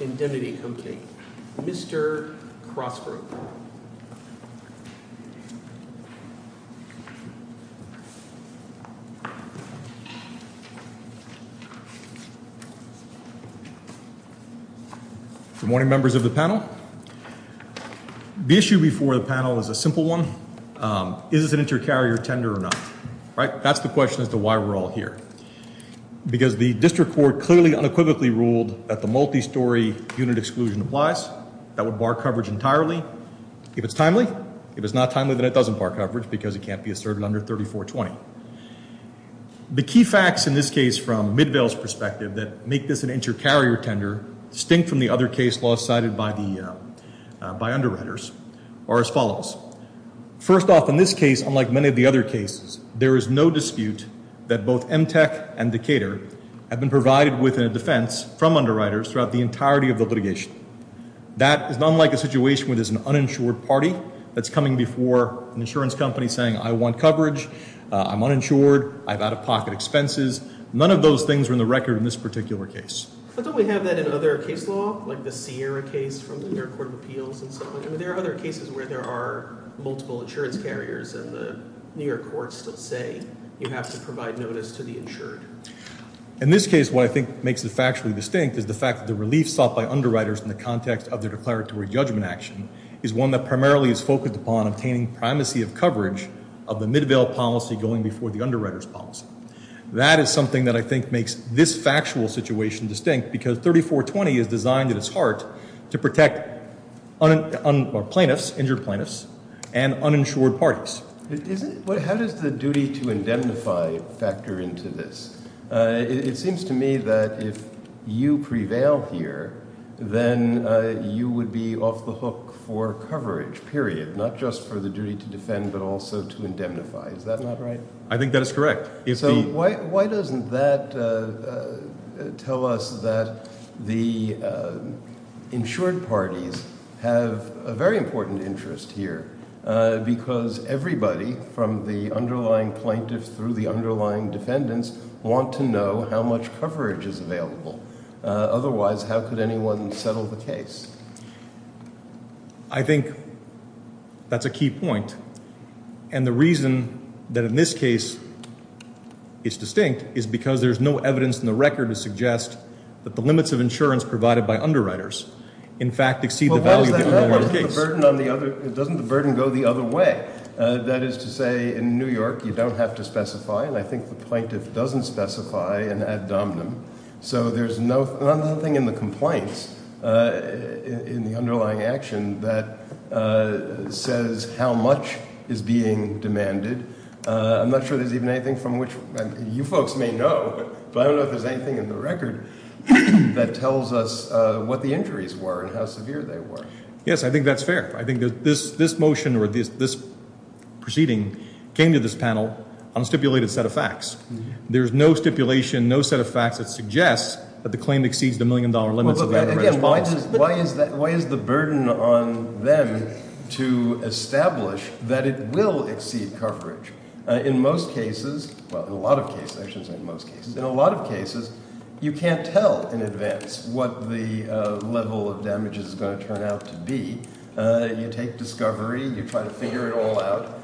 Indemnity Co. Mr. Crosbrook. Good morning members of the panel. The issue before the panel is a simple one. Is this an inter-carrier tender or not? Right? That's the question as to why we're all here. Because the district court clearly unequivocally ruled that the multi-story unit exclusion applies. That would bar coverage entirely. If it's timely. If it's not timely, then it doesn't bar coverage because it can't be asserted under 3420. The key facts in this case from Midvale's perspective that make this an inter-carrier tender distinct from the other First off, in this case, unlike many of the other cases, there is no dispute that both Emtech and Decatur have been provided with a defense from underwriters throughout the entirety of the litigation. That is not like a situation where there's an uninsured party that's coming before an insurance company saying, I want coverage. I'm uninsured. I have out-of-pocket expenses. None of those things are in the record in this particular case. But don't we have that in other case law, like the Sierra case from the New York Court of Appeals and so on? There are other cases where there are multiple insurance carriers and the New York courts still say you have to provide notice to the insured. In this case, what I think makes it factually distinct is the fact that the relief sought by underwriters in the context of their declaratory judgment action is one that primarily is focused upon obtaining primacy of coverage of the Midvale policy going before the underwriters policy. That is something that I think makes this factual situation distinct because 3420 is designed at its heart to protect plaintiffs, injured plaintiffs, and uninsured parties. How does the duty to indemnify factor into this? It seems to me that if you prevail here, then you would be off the hook for I think that is correct. So why doesn't that tell us that the insured parties have a very important interest here because everybody from the underlying plaintiffs through the underlying defendants want to know how much coverage is available. Otherwise, how could anyone settle the case? I think that is a key point. And the reason that in this case it is distinct is because there is no evidence in the record to suggest that the limits of insurance provided by underwriters in fact exceed the value of the case. That is to say, in New York, you don't have to specify, and I think the plaintiff doesn't specify an ad dominum. So there is nothing in the complaints in the underlying action that says how much is being demanded. I am not sure there is even anything from which, you folks may know, but I don't know if there is anything in the record that tells us what the injuries were and how severe they were. Yes, I think that is fair. I think this motion or this proceeding came to this panel on a stipulated set of facts. There is no stipulation, no set of facts that suggests that the claim exceeds the million-dollar limits of the underwriters. Why is the burden on them to establish that it will exceed coverage? In most cases, well, in a lot of cases, I shouldn't say most cases. In a lot of cases, you can't tell in advance what the level of damage is going to turn out to be. You take discovery. You try to figure it all out.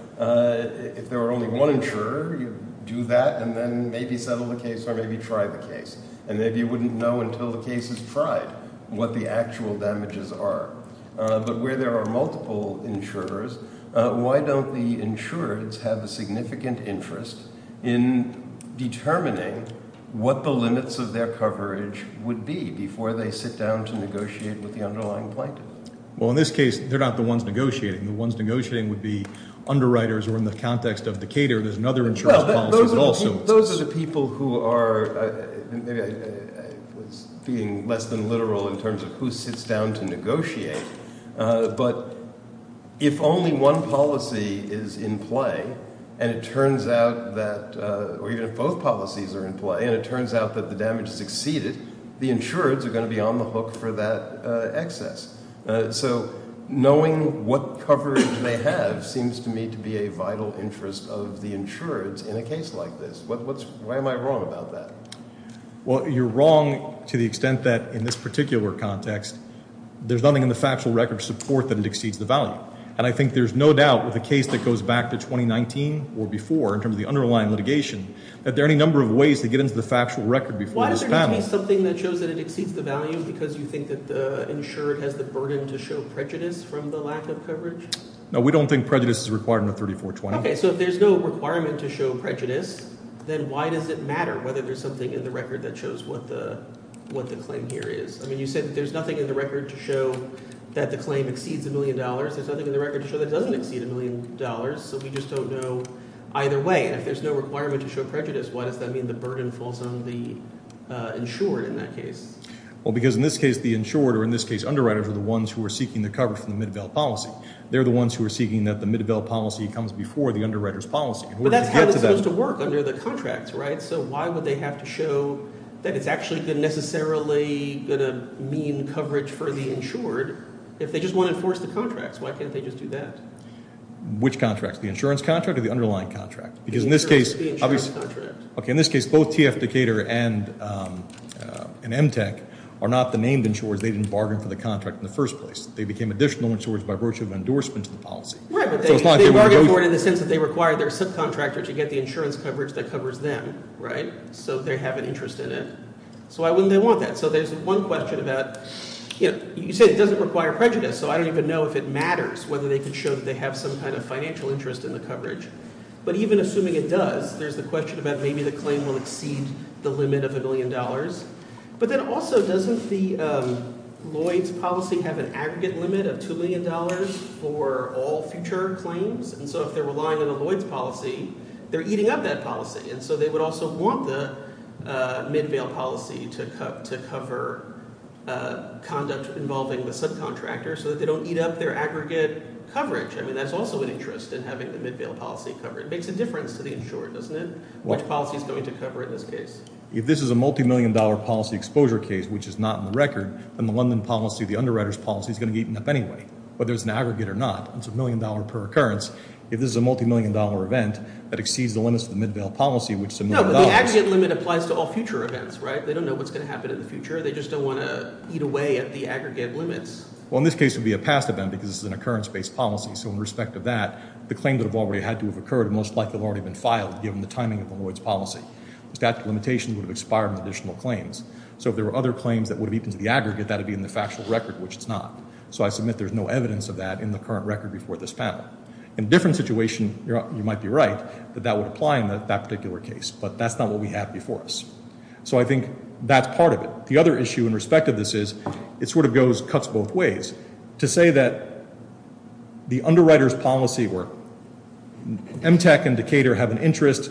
If there were only one insurer, you do that and then maybe settle the case or maybe try the case. And maybe you wouldn't know until the case is tried what the actual damages are. But where there are multiple insurers, why don't the insurers have a significant interest in determining what the limits of their coverage would be before they sit down to negotiate with the underlying plaintiff? Well, in this case, they're not the ones negotiating. The ones negotiating would be underwriters or in the context of the caterer, there's another insurance policy also. Those are the people who are being less than literal in terms of who sits down to negotiate. But if only one policy is in play and it turns out that or even if both policies are in play and it turns out that the damage has exceeded, the insurers are going to be on the hook for that excess. So knowing what coverage they have seems to me to be a vital interest of the insurers in a case like this. Why am I wrong about that? Well, you're wrong to the extent that in this particular context, there's nothing in the factual record to support that it exceeds the value. And I think there's no doubt with a case that goes back to 2019 or before in terms of the underlying litigation, that there are any number of ways to get into the factual record before this panel. Why does there not be something that shows that it exceeds the value because you think that the insured has the burden to show prejudice from the lack of coverage? No, we don't think prejudice is required under 3420. Okay, so if there's no requirement to show prejudice, then why does it matter whether there's something in the record that shows what the claim here is? I mean, you said that there's nothing in the record to show that the claim exceeds a million dollars. There's nothing in the record to show that it doesn't exceed a million dollars. So we just don't know either way. And if there's no requirement to show prejudice, why does that mean the burden falls on the insured in that case? Well, because in this case, the insured or in this case, underwriters are the ones who are seeking the coverage from the Midvale policy. They're the ones who are seeking that the Midvale policy comes before the underwriter's policy. But that's how it's supposed to work under the contracts, right? So why would they have to show that it's actually necessarily going to mean coverage for the insured if they just want to enforce the contracts? Why can't they just do that? Which contracts? The insurance contract or the underlying contract? Because in this case, both TFDecatur and MTEC are not the named insurers. They didn't bargain for the contract in the first place. They became additional insurers by virtue of endorsement of the policy. Right, but they bargain for it in the sense that they require their subcontractor to get the insurance coverage that covers them, right? So they have an interest in it. So why wouldn't they want that? So there's one question about, you know, you say it doesn't require prejudice. So I don't even know if it matters whether they could show that they have some kind of financial interest in the coverage. But even assuming it does, there's the question about maybe the claim will exceed the limit of a million dollars. But then also, doesn't the Lloyds policy have an aggregate limit of $2 million for all future claims? And so if they're relying on the Lloyds policy, they're eating up that policy. And so they would also want the mid-bail policy to cover conduct involving the subcontractor so that they don't eat up their aggregate coverage. I mean, that's also an interest in having the mid-bail policy covered. It makes a difference to the insurer, doesn't it? Which policy is going to cover it in this case? If this is a multi-million dollar policy exposure case, which is not in the record, then the London policy, the underwriter's policy, is going to be eaten up anyway. Whether it's an aggregate or not, it's a million dollar per occurrence. If this is a multi-million dollar event, that exceeds the limits of the mid-bail policy, which is a million dollars. No, but the aggregate limit applies to all future events, right? They don't know what's going to happen in the future. They just don't want to eat away at the aggregate limits. Well, in this case, it would be a past event because this is an occurrence-based policy. So in respect of that, the claims that have already had to have occurred have most likely already been filed given the timing of the Lloyd's policy. The statute of limitations would have expired on additional claims. So if there were other claims that would have eaten to the aggregate, that would be in the factual record, which it's not. So I submit there's no evidence of that in the current record before this panel. In a different situation, you might be right that that would apply in that particular case. But that's not what we have before us. So I think that's part of it. The other issue in respect of this is, it sort of goes, cuts both ways. To say that the underwriter's policy, where MTEC and Decatur have an interest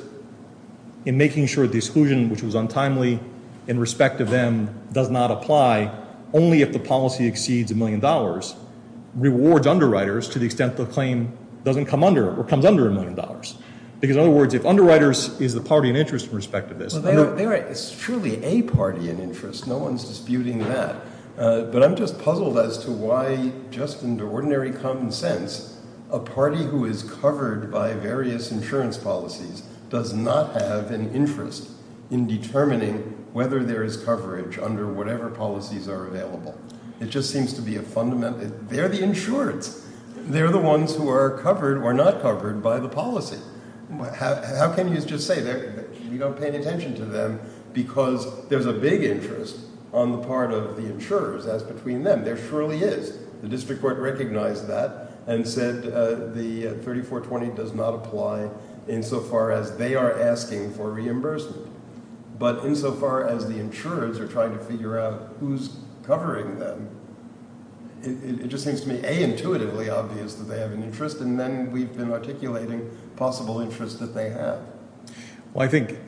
in making sure the exclusion, which was untimely, in respect of them does not apply, only if the policy exceeds a million dollars, rewards underwriters to the extent the claim doesn't come under or comes under a million dollars. Because in other words, if underwriters is the party in interest in respect of this. So there is surely a party in interest. No one's disputing that. But I'm just puzzled as to why, just in ordinary common sense, a party who is covered by various insurance policies does not have an interest in determining whether there is coverage under whatever policies are available. It just seems to be a fundamental, they're the insureds. They're the ones who are covered or not covered by the policy. How can you just say that you don't pay any attention to them because there's a big interest on the part of the insurers as between them. There surely is. The district court recognized that and said the 3420 does not apply insofar as they are asking for reimbursement. But insofar as the insurers are trying to figure out who's covering them, it just seems to me intuitively obvious that they have an interest. And then we've been articulating possible interest that they have. Well, I think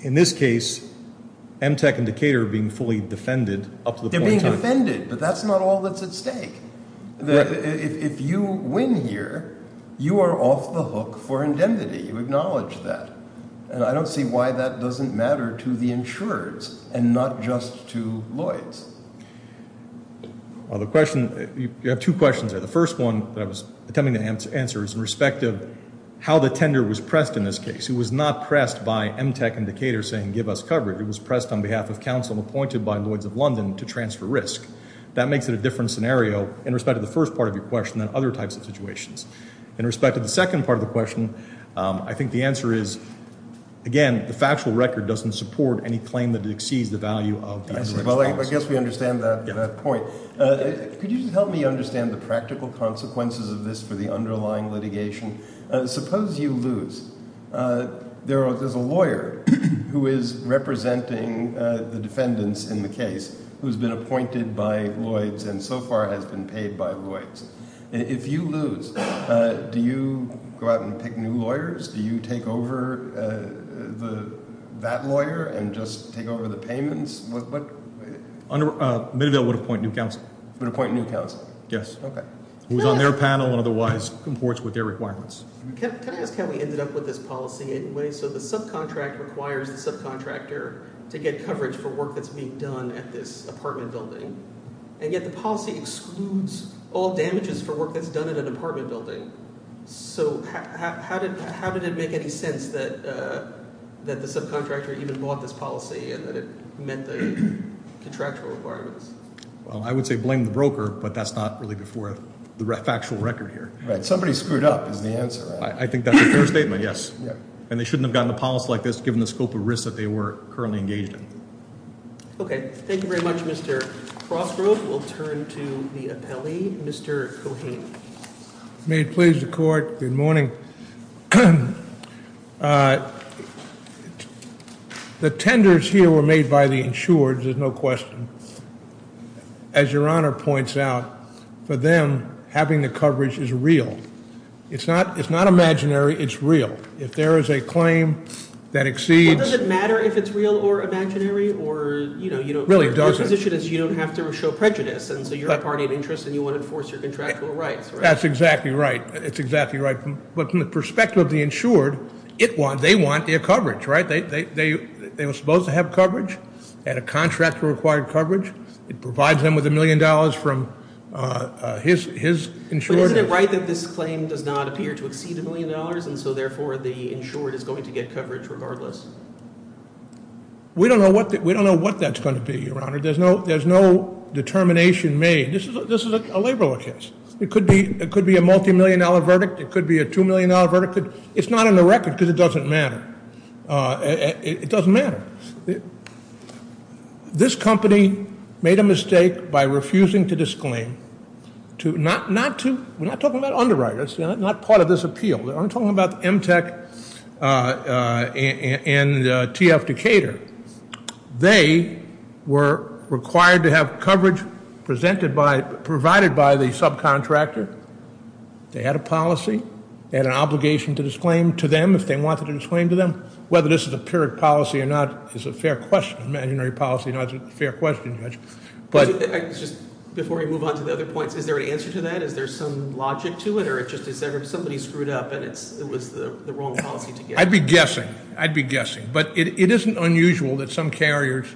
in this case, Emtech and Decatur are being fully defended up to the point. They're being defended, but that's not all that's at stake. If you win here, you are off the hook for indemnity. You acknowledge that. And I don't see why that doesn't matter to the insureds and not just to Lloyds. Well, the question, you have two questions there. The first one that I was attempting to answer is in respect of how the tender was pressed in this case. It was not pressed by Emtech and Decatur saying give us coverage. It was pressed on behalf of counsel appointed by Lloyds of London to transfer risk. That makes it a different scenario in respect of the first part of your question than other types of situations. In respect of the second part of the question, I think the answer is, again, the factual record doesn't support any claim that exceeds the value of the indirect response. Well, I guess we understand that point. Could you just help me understand the practical consequences of this for the underlying litigation? Suppose you lose. There's a lawyer who is representing the defendants in the case who's been appointed by Lloyds and so far has been paid by Lloyds. If you lose, do you go out and pick new lawyers? Do you take over that lawyer and just take over the payments? Middeville would appoint new counsel. Would appoint new counsel? Yes. Okay. Who's on their panel and otherwise comports with their requirements. Can I ask how we ended up with this policy anyway? So the subcontract requires the subcontractor to get coverage for work that's being done at this apartment building. And yet the policy excludes all damages for work that's done at an apartment building. So how did it make any sense that the subcontractor even bought this policy and that it met the contractual requirements? Well, I would say blame the broker, but that's not really before the factual record here. Right. Somebody screwed up is the answer. I think that's a fair statement, yes. And they shouldn't have gotten a policy like this given the scope of risk that they were currently engaged in. Okay, thank you very much, Mr. Crossgrove. We'll turn to the appellee, Mr. Cohane. May it please the court, good morning. The tenders here were made by the insured, there's no question. As your honor points out, for them, having the coverage is real. It's not imaginary, it's real. If there is a claim that exceeds- Really, it doesn't. Your position is you don't have to show prejudice, and so you're a party of interest and you want to enforce your contractual rights, right? That's exactly right. It's exactly right. But from the perspective of the insured, they want their coverage, right? They were supposed to have coverage. They had a contract for required coverage. It provides them with a million dollars from his insurance. But isn't it right that this claim does not appear to exceed a million dollars, and so, therefore, the insured is going to get coverage regardless? We don't know what that's going to be, your honor. There's no determination made. This is a labor law case. It could be a multi-million dollar verdict. It could be a two-million dollar verdict. It's not on the record because it doesn't matter. It doesn't matter. This company made a mistake by refusing to disclaim, not to, we're not talking about underwriters, not part of this appeal. I'm talking about Emtech and TF Decatur. They were required to have coverage provided by the subcontractor. They had a policy. They had an obligation to disclaim to them if they wanted to disclaim to them. Whether this is a pure policy or not is a fair question, imaginary policy, not a fair question, judge. Before we move on to the other points, is there an answer to that? Is there some logic to it? Or is there somebody screwed up and it was the wrong policy to get? I'd be guessing. I'd be guessing. But it isn't unusual that some carriers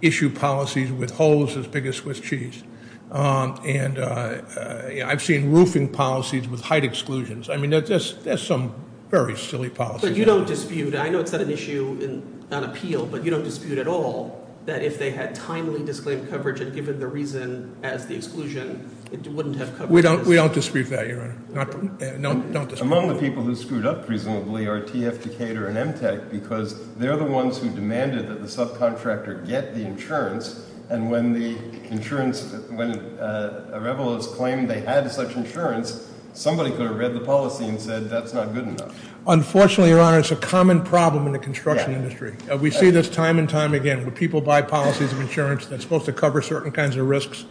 issue policies with holes as big as Swiss cheese. And I've seen roofing policies with height exclusions. I mean, there's some very silly policies. But you don't dispute. I know it's not an issue on appeal, but you don't dispute at all that if they had timely disclaimed coverage and given the reason as the exclusion, it wouldn't have coverage. We don't dispute that, Your Honor. Don't dispute that. Among the people who screwed up reasonably are TF Decatur and M-TEC because they're the ones who demanded that the subcontractor get the insurance. And when the insurance, when a revelers claimed they had such insurance, somebody could have read the policy and said that's not good enough. Unfortunately, Your Honor, it's a common problem in the construction industry. We see this time and time again when people buy policies of insurance that's supposed to cover certain kinds of risks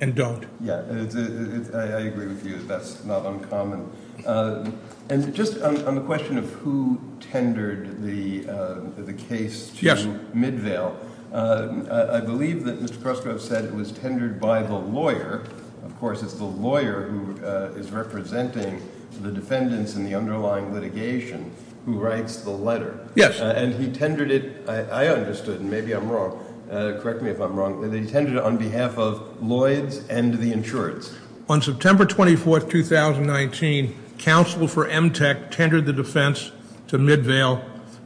and don't. Yeah, I agree with you. That's not uncommon. And just on the question of who tendered the case to Midvale, I believe that Mr. Korsgaard said it was tendered by the lawyer. Of course, it's the lawyer who is representing the defendants in the underlying litigation who writes the letter. Yes. And he tendered it. I understood. Maybe I'm wrong. Correct me if I'm wrong. They tended it on behalf of Lloyds and the insurance. On September 24th, 2019, counsel for M-TEC tendered the defense to Midvale.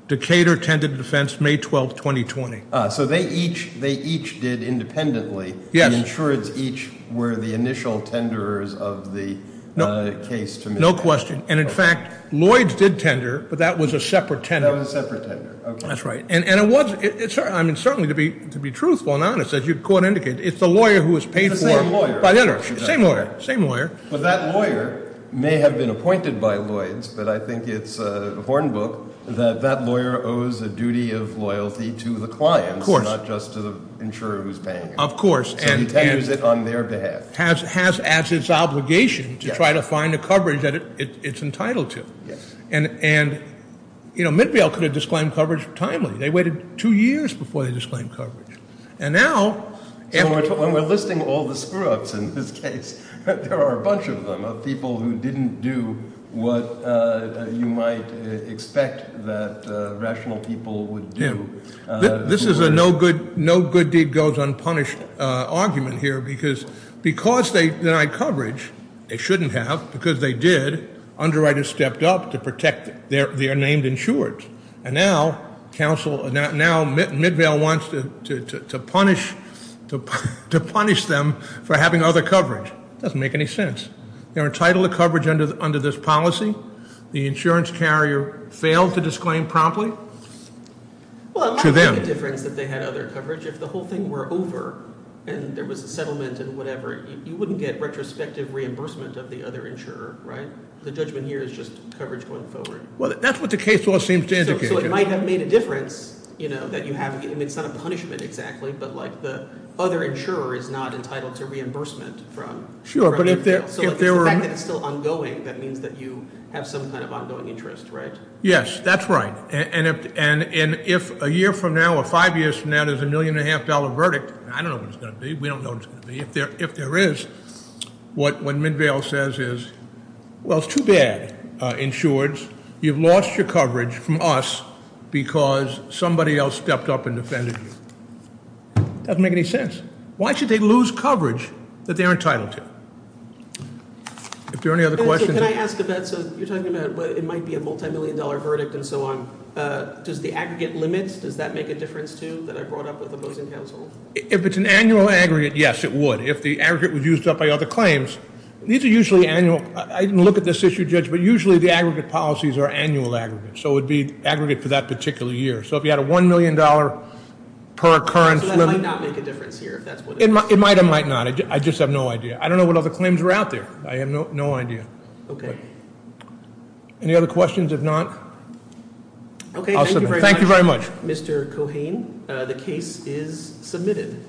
Decatur tended the defense May 12th, 2020. So they each did independently. Yes. The insurance each were the initial tenderers of the case to Midvale. No question. And in fact, Lloyds did tender, but that was a separate tender. That was a separate tender. That's right. I mean, certainly to be truthful and honest, as your court indicated, it's the lawyer who is paid for. It's the same lawyer. Same lawyer. Same lawyer. But that lawyer may have been appointed by Lloyds, but I think it's a horn book that that lawyer owes a duty of loyalty to the client. Of course. Not just to the insurer who's paying him. Of course. And he tenders it on their behalf. Has as its obligation to try to find the coverage that it's entitled to. Yes. And, you know, Midvale could have disclaimed coverage timely. They waited two years before they disclaimed coverage. And now. When we're listing all the screw-ups in this case, there are a bunch of them of people who didn't do what you might expect that rational people would do. This is a no good deed goes unpunished argument here because they denied coverage. They shouldn't have because they did. Underwriters stepped up to protect their named insurers. And now Midvale wants to punish them for having other coverage. It doesn't make any sense. They're entitled to coverage under this policy. The insurance carrier failed to disclaim promptly to them. Well, it might make a difference if they had other coverage. If the whole thing were over and there was a settlement and whatever, you wouldn't get retrospective reimbursement of the other insurer, right? The judgment here is just coverage going forward. Well, that's what the case law seems to indicate. So it might have made a difference, you know, that you have. I mean, it's not a punishment exactly, but, like, the other insurer is not entitled to reimbursement from Midvale. Sure, but if there were. So the fact that it's still ongoing, that means that you have some kind of ongoing interest, right? Yes, that's right. And if a year from now or five years from now there's a million and a half dollar verdict, I don't know what it's going to be. We don't know what it's going to be. If there is, what Midvale says is, well, it's too bad, insureds. You've lost your coverage from us because somebody else stepped up and defended you. Doesn't make any sense. Why should they lose coverage that they're entitled to? If there are any other questions. Can I ask a bet? So you're talking about it might be a multimillion dollar verdict and so on. Does the aggregate limit, does that make a difference, too, that I brought up with opposing counsel? If it's an annual aggregate, yes, it would. If the aggregate was used up by other claims, these are usually annual. I didn't look at this issue, Judge, but usually the aggregate policies are annual aggregates. So it would be aggregate for that particular year. So if you had a $1 million per occurrence limit. So that might not make a difference here, if that's what it is. It might or might not. I just have no idea. I don't know what other claims are out there. I have no idea. Okay. Any other questions? If not, I'll submit. Okay, thank you very much. Thank you very much. Mr. Cohane, the case is submitted.